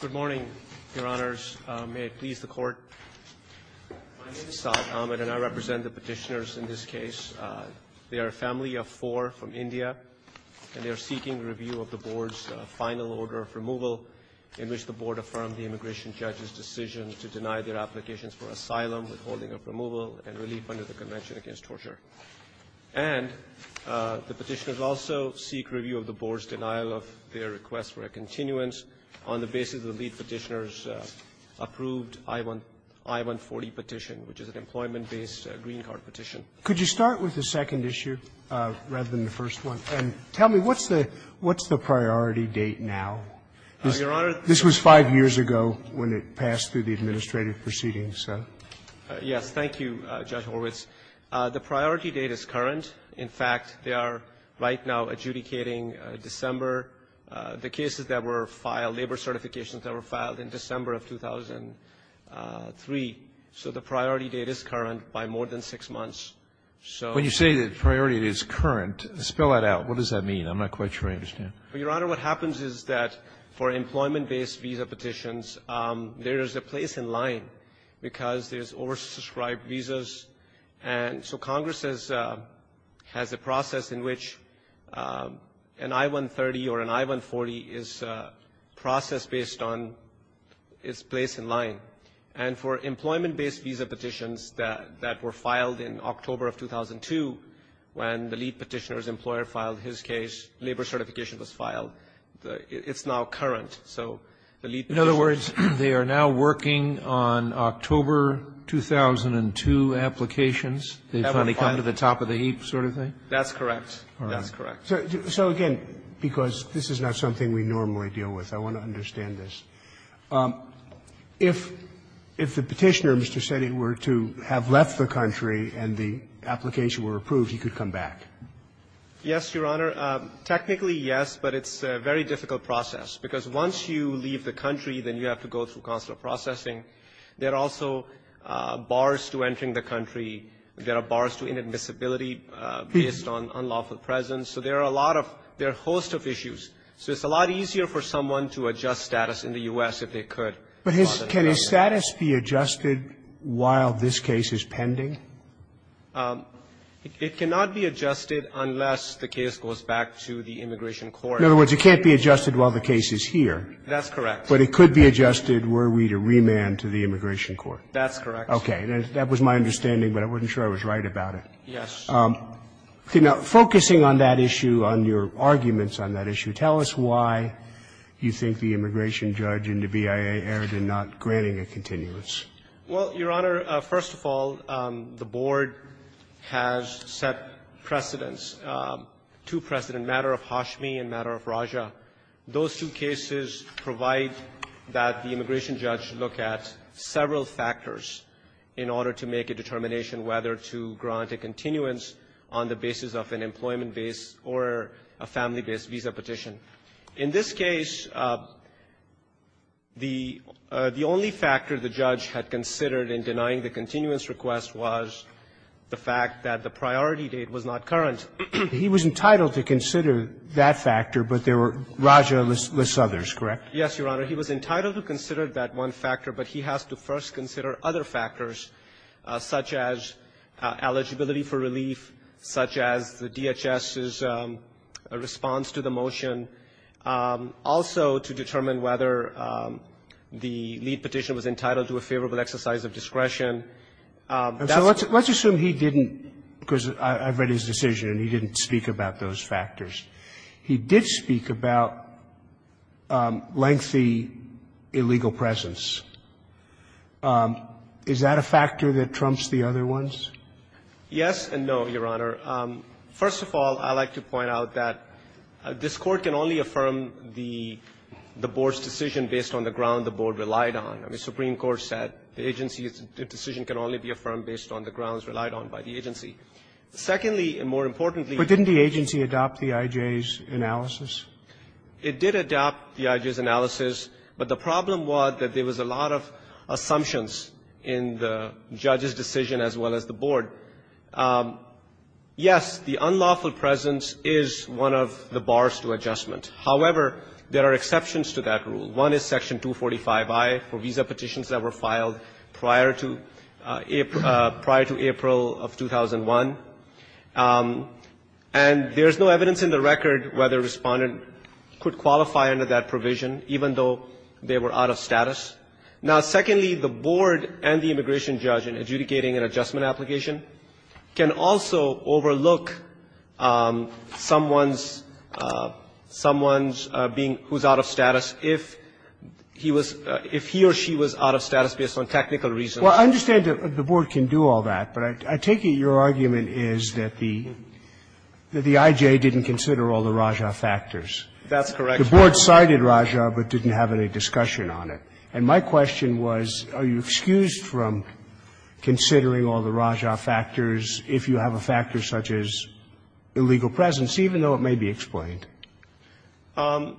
Good morning, Your Honors. May it please the Court. My name is Saad Ahmed, and I represent the petitioners in this case. They are a family of four from India, and they are seeking review of the Board's final order of removal, in which the Board affirmed the immigration judge's decision to deny their applications for asylum, withholding of removal, and relief under the Convention Against Torture. And the petitioners also seek review of the Board's denial of their request for a continuance on the basis of the lead petitioner's approved I-140 petition, which is an employment-based green card petition. Could you start with the second issue rather than the first one? And tell me, what's the priority date now? Your Honor — This was five years ago when it passed through the administrative proceedings. Yes. Thank you, Judge Horwitz. The priority date is current. In fact, they are right now adjudicating December. The cases that were filed, labor certifications that were filed in December of 2003, so the priority date is current by more than six months. So — When you say the priority date is current, spell that out. What does that mean? I'm not quite sure I understand. Well, Your Honor, what happens is that for employment-based visa petitions, there is a place in line because there's oversubscribed visas. And so Congress has a process in which an I-130 or an I-140 is processed based on its place in line. And for employment-based visa petitions that were filed in October of 2002, when the lead petitioner's employer filed his case, labor certification was filed, it's now current. So the lead petitioner's — In other words, they are now working on October 2002 applications. They finally come to the top of the heap sort of thing? That's correct. All right. That's correct. So again, because this is not something we normally deal with, I want to understand this. If the Petitioner, Mr. Seddy, were to have left the country and the application were approved, he could come back? Yes, Your Honor. Technically, yes, but it's a very difficult process. Because once you leave the country, then you have to go through consular processing. There are also bars to entering the country. There are bars to inadmissibility based on unlawful presence. So there are a lot of — there are a host of issues. So it's a lot easier for someone to adjust status in the U.S. if they could. But can his status be adjusted while this case is pending? It cannot be adjusted unless the case goes back to the immigration court. In other words, it can't be adjusted while the case is here. That's correct. But it could be adjusted were we to remand to the immigration court. That's correct. Okay. That was my understanding, but I wasn't sure I was right about it. Yes. Now, focusing on that issue, on your arguments on that issue, tell us why you think the immigration judge and the BIA erred in not granting a continuance. Well, Your Honor, first of all, the Board has set precedents, two precedents, in matter of Hashmi and matter of Raja. Those two cases provide that the immigration judge look at several factors in order to make a determination whether to grant a continuance on the basis of an employment base or a family-based visa petition. In this case, the only factor the judge had considered in denying the continuance request was the fact that the priority date was not current. He was entitled to consider that factor, but there were Raja-less others, correct? Yes, Your Honor. He was entitled to consider that one factor, but he has to first consider other factors such as eligibility for relief, such as the DHS's response to the motion, also to determine whether the lead petition was entitled to a favorable exercise of discretion. And so let's assume he didn't, because I've read his decision, and he didn't speak about those factors. He did speak about lengthy illegal presence. Is that a factor that trumps the other ones? Yes and no, Your Honor. First of all, I'd like to point out that this Court can only affirm the Board's decision based on the ground the Board relied on. I mean, Supreme Court said the agency's decision can only be affirmed based on the grounds relied on by the agency. Secondly, and more importantly the Board's decision can only be affirmed based on the grounds relied on by the agency. It did adopt the IJ's analysis, but the problem was that there was a lot of assumptions in the judge's decision as well as the Board. Yes, the unlawful presence is one of the bars to adjustment. However, there are exceptions to that rule. One is Section 245I for visa petitions that were filed prior to April of 2001. And there's no evidence in the record whether a respondent could qualify under that provision, even though they were out of status. Now, secondly, the Board and the immigration judge in adjudicating an adjustment application can also overlook someone's being – who's out of status if the immigration judge said he was – if he or she was out of status based on technical reasons. Roberts, I understand that the Board can do all that, but I take it your argument is that the – that the IJ didn't consider all the Raja factors. That's correct. The Board cited Raja, but didn't have any discussion on it. And my question was, are you excused from considering all the Raja factors if you have a factor such as illegal presence, even though it may be explained? No.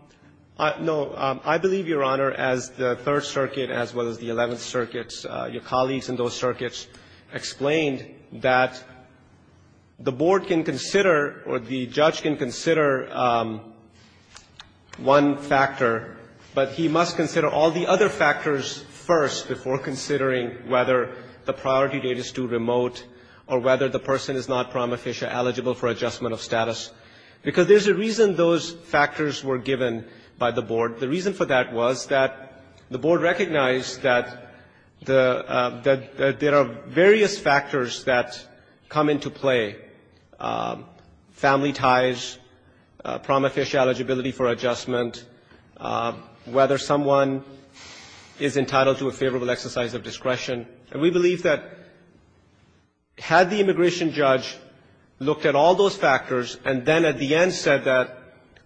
I believe, Your Honor, as the Third Circuit, as well as the Eleventh Circuit, your colleagues in those circuits, explained that the Board can consider or the judge can consider one factor, but he must consider all the other factors first before considering whether the priority date is too remote or whether the person is not prima status. Because there's a reason those factors were given by the Board. The reason for that was that the Board recognized that the – that there are various factors that come into play – family ties, prom official eligibility for adjustment, whether someone is entitled to a favorable exercise of discretion. And we believe that had the immigration judge looked at all those factors and then at the end said that,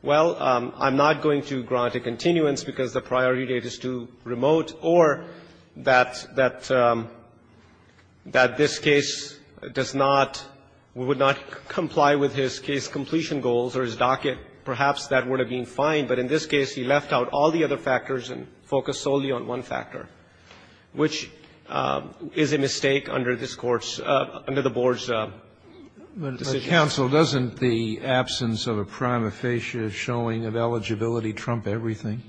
well, I'm not going to grant a continuance because the priority date is too remote, or that – that this case does not – would not comply with his case completion goals or his docket, perhaps that would have been fine. But in this case, he left out all the other factors and focused solely on one factor, which is a mistake under this Court's – under the Board's decision. But, counsel, doesn't the absence of a prima facie showing of eligibility trump everything?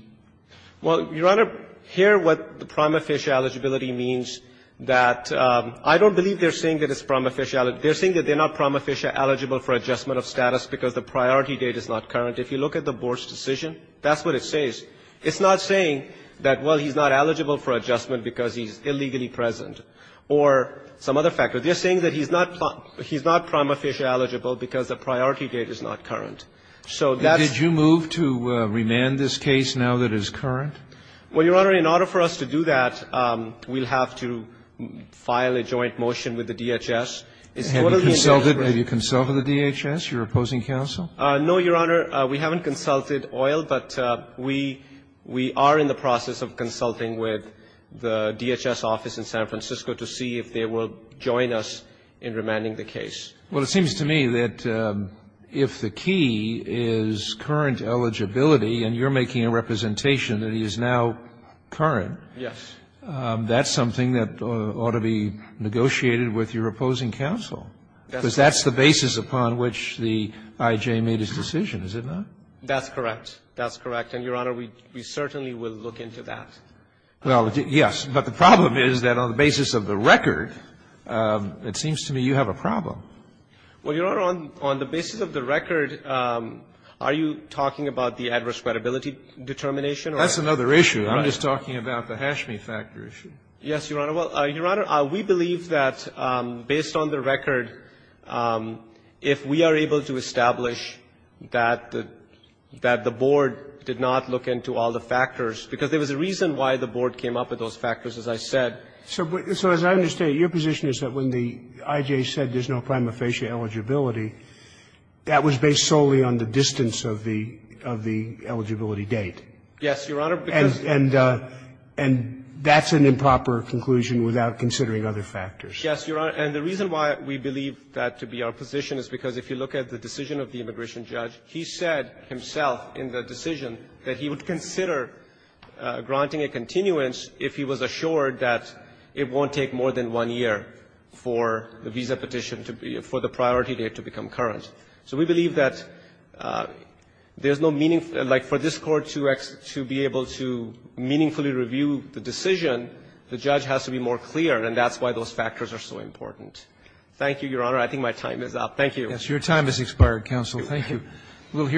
Well, Your Honor, here what the prima facie eligibility means that – I don't believe they're saying that it's prima facie – they're saying that they're not prima facie eligible for adjustment of status because the priority date is not current. If you look at the Board's decision, that's what it says. It's not saying that, well, he's not eligible for adjustment because he's illegally present or some other factor. They're saying that he's not – he's not prima facie eligible because the priority date is not current. So that's – Did you move to remand this case now that it's current? Well, Your Honor, in order for us to do that, we'll have to file a joint motion with the DHS. It's totally in their interest. Have you consulted – have you consulted the DHS, your opposing counsel? No, Your Honor. We haven't consulted OIL, but we are in the process of consulting with the DHS office in San Francisco to see if they will join us in remanding the case. Well, it seems to me that if the key is current eligibility and you're making a representation that he is now current, that's something that ought to be negotiated with your opposing counsel, because that's the basis upon which the I.J. made his decision, is it not? That's correct. That's correct. And, Your Honor, we certainly will look into that. Well, yes. But the problem is that on the basis of the record, it seems to me you have a problem. Well, Your Honor, on the basis of the record, are you talking about the adverse credibility determination? That's another issue. I'm just talking about the Hashmi factor issue. Yes, Your Honor. Well, Your Honor, we believe that based on the record, if we are able to establish that the board did not look into all the factors, because there was a reason why the board came up with those factors, as I said. So as I understand, your position is that when the I.J. said there's no prima facie eligibility, that was based solely on the distance of the eligibility date. Yes, Your Honor, because And that's an improper conclusion without considering other factors. Yes, Your Honor. And the reason why we believe that to be our position is because if you look at the decision of the immigration judge, he said himself in the decision that he would consider granting a continuance if he was assured that it won't take more than one year for the visa petition to be – for the priority date to become current. So we believe that there's no meaningful – like, for this Court to be able to meaningfully review the decision, the judge has to be more clear, and that's why those factors are so important. Thank you, Your Honor. I think my time is up. Thank you. Yes, your time has expired, counsel. Thank you. Good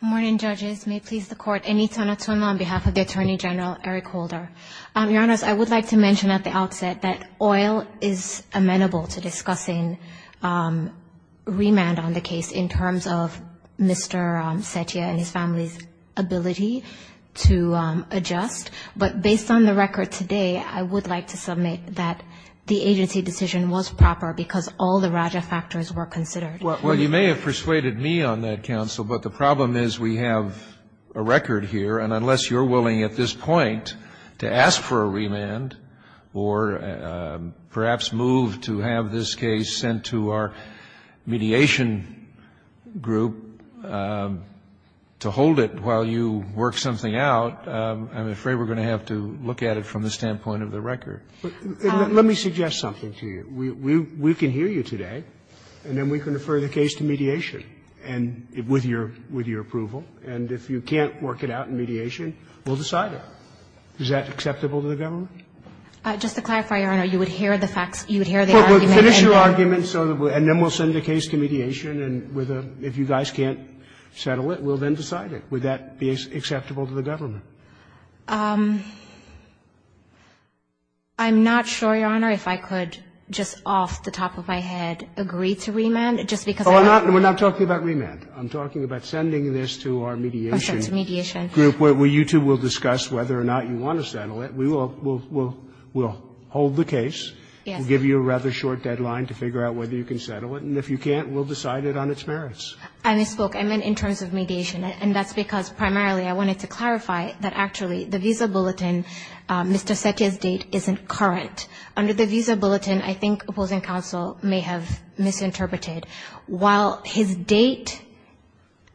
morning, judges. May it please the Court. Anita Natwim on behalf of the Attorney General Eric Holder. Your Honor, I would like to mention at the outset that oil is amenable to discussing remand on the case in terms of Mr. Setia and his family's ability to adjust, but based on the record today, I would like to submit that the agency decision was proper because all the Raja factors were considered. Well, you may have persuaded me on that, counsel, but the problem is we have a record here, and unless you're willing at this point to ask for a remand or perhaps move to have this case sent to our mediation group to hold it while you work something out, I'm afraid we're going to have to look at it from the standpoint of the record. Let me suggest something to you. We can hear you today, and then we can refer the case to mediation and with your approval, and if you can't work it out in mediation, we'll decide it. Is that acceptable to the government? Just to clarify, Your Honor, you would hear the facts, you would hear the argument and then we'll finish your argument, and then we'll send the case to mediation and if you guys can't settle it, we'll then decide it. Would that be acceptable to the government? I'm not sure, Your Honor, if I could just off the top of my head agree to remand, just because I don't think that's the case. We're not talking about remand. I'm talking about sending this to our mediation group where you two will discuss whether or not you want to settle it. We'll hold the case, we'll give you a rather short deadline to figure out whether you can settle it, and if you can't, we'll decide it on its merits. I misspoke. I just want to clarify that actually the visa bulletin, Mr. Setia's date, isn't current. Under the visa bulletin, I think opposing counsel may have misinterpreted, while his date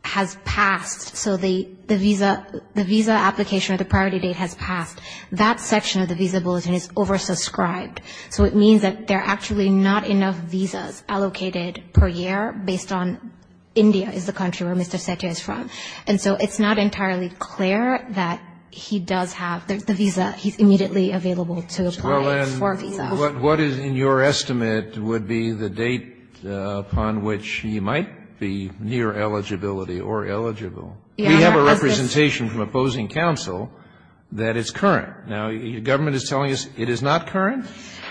has passed, so the visa application or the priority date has passed, that section of the visa bulletin is oversubscribed. So it means that there are actually not enough visas allocated per year based on India is the country where Mr. Setia is from. And so it's not entirely clear that he does have the visa. He's immediately available to apply for a visa. Kennedy, what is in your estimate would be the date upon which he might be near eligibility or eligible? We have a representation from opposing counsel that it's current. Now, the government is telling us it is not current?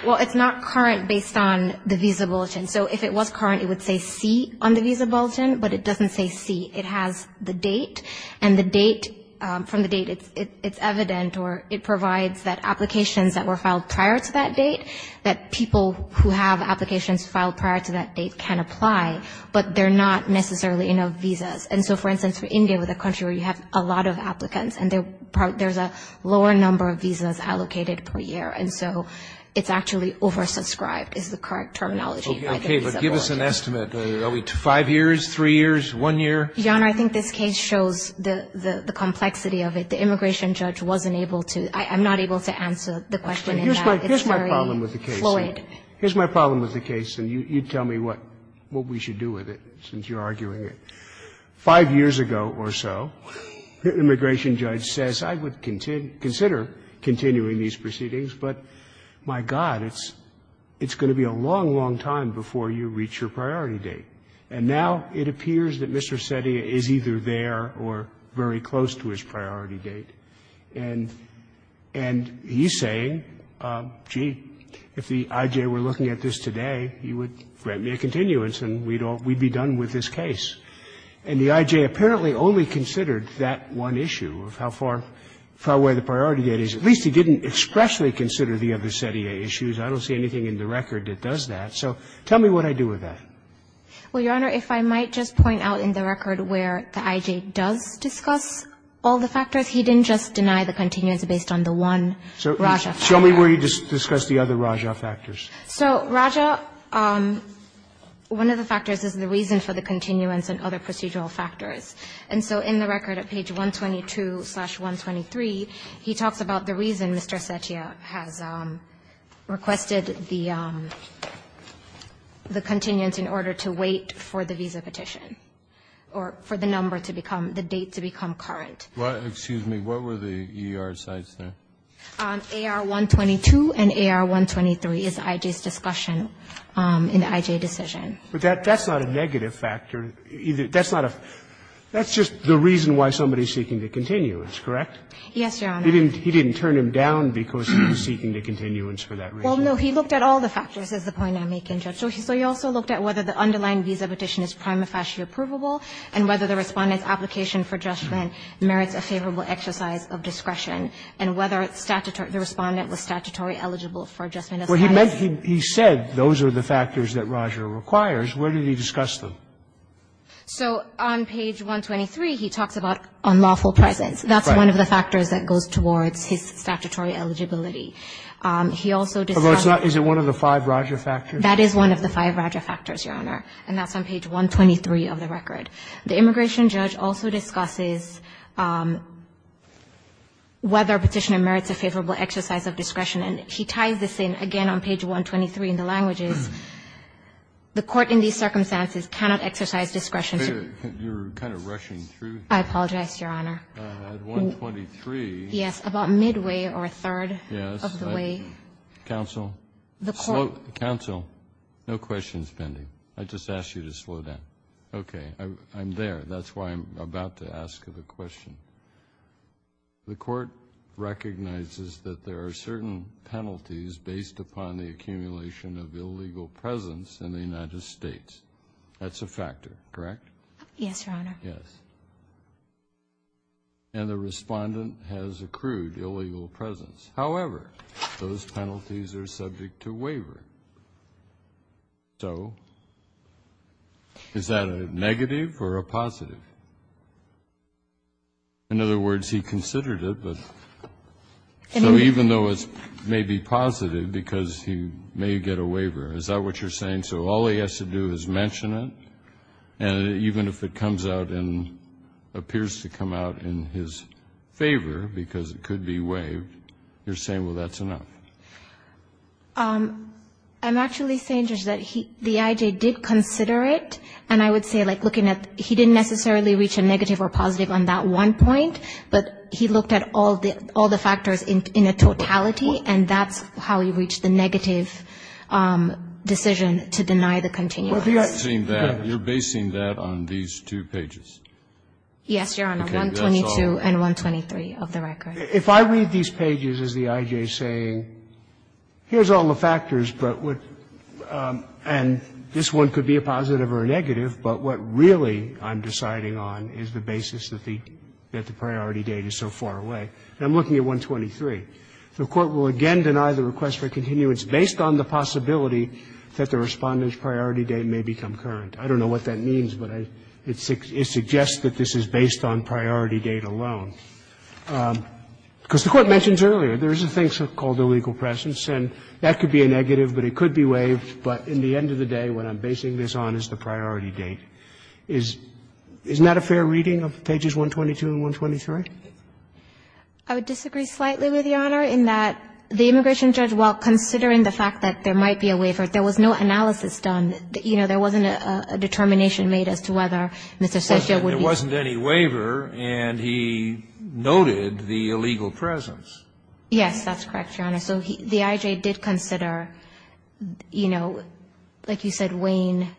Well, it's not current based on the visa bulletin. So if it was current, it would say C on the visa bulletin, but it doesn't say C. It has the date, and the date, from the date, it's evident or it provides that applications that were filed prior to that date, that people who have applications filed prior to that date can apply, but they're not necessarily enough visas. And so, for instance, for India, with a country where you have a lot of applicants and there's a lower number of visas allocated per year, and so it's actually oversubscribed is the correct terminology. Okay, but give us an estimate. Are we five years, three years, one year? Your Honor, I think this case shows the complexity of it. The immigration judge wasn't able to, I'm not able to answer the question in that. It's very fluid. Here's my problem with the case, and you tell me what we should do with it, since you're arguing it. Five years ago or so, the immigration judge says, I would consider continuing these proceedings, but my God, it's going to be a long, long time before you reach your priority date. And now it appears that Mr. Cetia is either there or very close to his priority date. And he's saying, gee, if the IJ were looking at this today, he would grant me a continuance and we'd be done with this case. And the IJ apparently only considered that one issue of how far away the priority date is. At least he didn't expressly consider the other Cetia issues. I don't see anything in the record that does that. So tell me what I do with that. Well, Your Honor, if I might just point out in the record where the IJ does discuss all the factors, he didn't just deny the continuance based on the one Raja factor. Show me where you discuss the other Raja factors. So Raja, one of the factors is the reason for the continuance and other procedural factors. And so in the record at page 122-123, he talks about the reason Mr. Cetia has requested the continuance in order to wait for the visa petition or for the number to become the date to become current. Well, excuse me, what were the ER sites there? AR-122 and AR-123 is IJ's discussion in the IJ decision. But that's not a negative factor. That's not a that's just the reason why somebody is seeking the continuance, correct? Yes, Your Honor. He didn't turn him down because he was seeking the continuance for that reason. Well, no, he looked at all the factors is the point I'm making, Judge. So he also looked at whether the underlying visa petition is prima facie approvable and whether the Respondent's application for adjustment merits a favorable exercise of discretion and whether the Respondent was statutorily eligible for adjustment as high as. He said those are the factors that Raja requires. Where did he discuss them? So on page 123, he talks about unlawful presence. That's one of the factors that goes towards his statutory eligibility. He also discusses Is it one of the five Raja factors? That is one of the five Raja factors, Your Honor, and that's on page 123 of the record. The immigration judge also discusses whether a petitioner merits a favorable exercise of discretion, and he ties this in again on page 123 in the languages. The court in these circumstances cannot exercise discretion. You're kind of rushing through. I apologize, Your Honor. At 123. Yes, about midway or a third. Yes. Of the way. Counsel. The court. Slow. Counsel. No questions pending. I just asked you to slow down. Okay. I'm there. That's why I'm about to ask the question. The court recognizes that there are certain penalties based upon the accumulation of illegal presence in the United States. That's a factor, correct? Yes, Your Honor. Yes. And the Respondent has accrued illegal presence. However, those penalties are subject to waiver. So is that a negative or a positive? In other words, he considered it, but even though it may be positive because he may get a waiver, is that what you're saying? So all he has to do is mention it, and even if it comes out and appears to come out in his favor because it could be waived, you're saying, well, that's enough? I'm actually saying, Judge, that the I.J. did consider it, and I would say, like, looking at he didn't necessarily reach a negative or positive on that one point, but he looked at all the factors in a totality, and that's how he reached the negative decision to deny the continuance. Well, the I.J. You're basing that on these two pages. Yes, Your Honor. 122. And 123 of the record. If I read these pages as the I.J. saying, here's all the factors, but what and this one could be a positive or a negative, but what really I'm deciding on is the basis that the priority date is so far away. And I'm looking at 123. The Court will again deny the request for continuance based on the possibility that the Respondent's priority date may become current. I don't know what that means, but it suggests that this is based on priority date alone. Because the Court mentions earlier, there is a thing called a legal presence, and that could be a negative, but it could be waived. But in the end of the day, what I'm basing this on is the priority date. Isn't that a fair reading of pages 122 and 123? I would disagree slightly with Your Honor in that the immigration judge, while considering the fact that there might be a waiver, there was no analysis done. You know, there wasn't a determination made as to whether Mr. Cetia would be ---- Kennedy, there wasn't any waiver, and he noted the illegal presence. Yes, that's correct, Your Honor. So the I.J. did consider, you know, like you said, Wayne,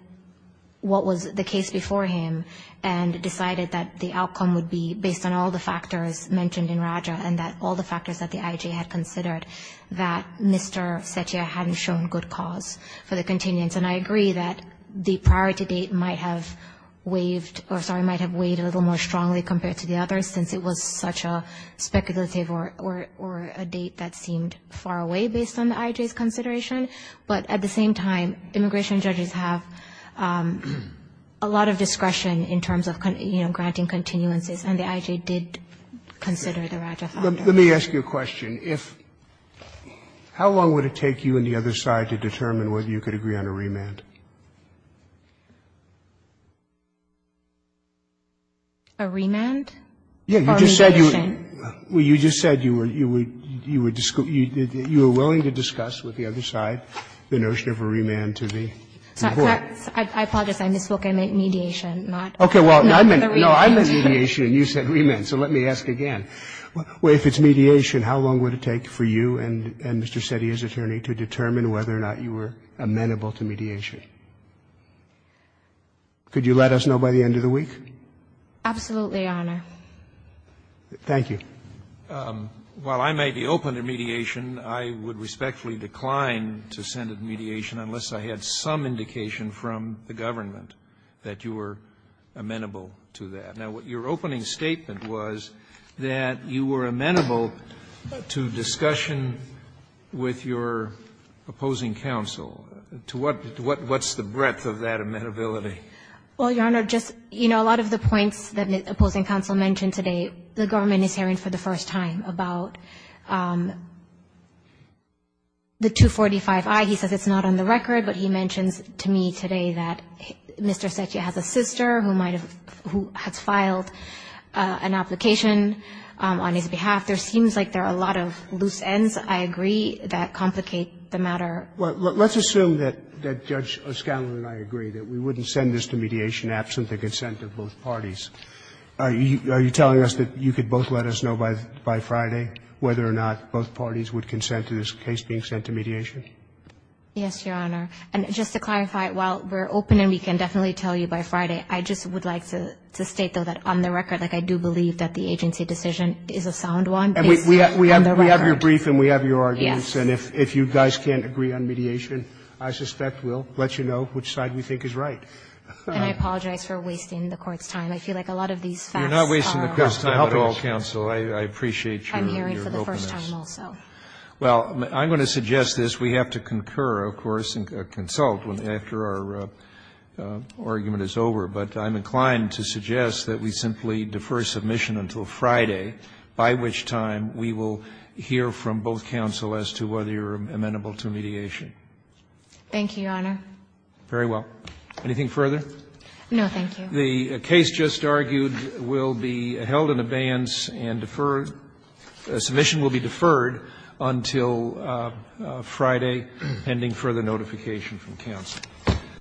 what was the case before him, and decided that the outcome would be based on all the factors mentioned in Raja and that all the factors that the I.J. had considered that Mr. Cetia hadn't shown good cause for the continuance. And I agree that the priority date might have waived or, sorry, might have weighed a little more strongly compared to the others, since it was such a speculative or a date that seemed far away based on the I.J.'s consideration. But at the same time, immigration judges have a lot of discretion in terms of, you know, granting continuances, and the I.J. did consider the Raja found out. Let me ask you a question. If ---- how long would it take you and the other side to determine whether you could agree on a remand? A remand? Or mediation? You just said you were willing to discuss with the other side the notion of a remand to the court. I apologize. I misspoke. I meant mediation, not the remand. Okay. Well, no, I meant mediation, and you said remand. So let me ask again. If it's mediation, how long would it take for you and Mr. Cetia's attorney to determine whether or not you were amenable to mediation? Could you let us know by the end of the week? Absolutely, Your Honor. Thank you. While I may be open to mediation, I would respectfully decline to send a mediation unless I had some indication from the government that you were amenable to that. Now, your opening statement was that you were amenable to discussion with your opposing counsel. To what what's the breadth of that amenability? Well, Your Honor, just, you know, a lot of the points that the opposing counsel mentioned today, the government is hearing for the first time about the 245i. He says it's not on the record, but he mentions to me today that Mr. Cetia has a sister who might have who has filed an application on his behalf. There seems like there are a lot of loose ends, I agree, that complicate the matter. Well, let's assume that Judge O'Scanlon and I agree that we wouldn't send this to mediation absent the consent of both parties. Are you telling us that you could both let us know by Friday whether or not both parties would consent to this case being sent to mediation? Yes, Your Honor. And just to clarify, while we're open and we can definitely tell you by Friday, I just would like to state, though, that on the record, like, I do believe that the agency decision is a sound one based on the record. And we have your brief and we have your arguments. Yes. And if you guys can't agree on mediation, I suspect we'll let you know which side we think is right. And I apologize for wasting the Court's time. I feel like a lot of these facts are a lot of the helpers. You're not wasting the Court's time at all, counsel. I appreciate your openness. I'm hearing for the first time also. Well, I'm going to suggest this. We have to concur, of course, and consult after our argument is over. But I'm inclined to suggest that we simply defer submission until Friday, by which time we will hear from both counsel as to whether you're amenable to mediation. Thank you, Your Honor. Very well. Anything further? No, thank you. The case just argued will be held in abeyance and deferred. Submission will be deferred until Friday, pending further notification from counsel.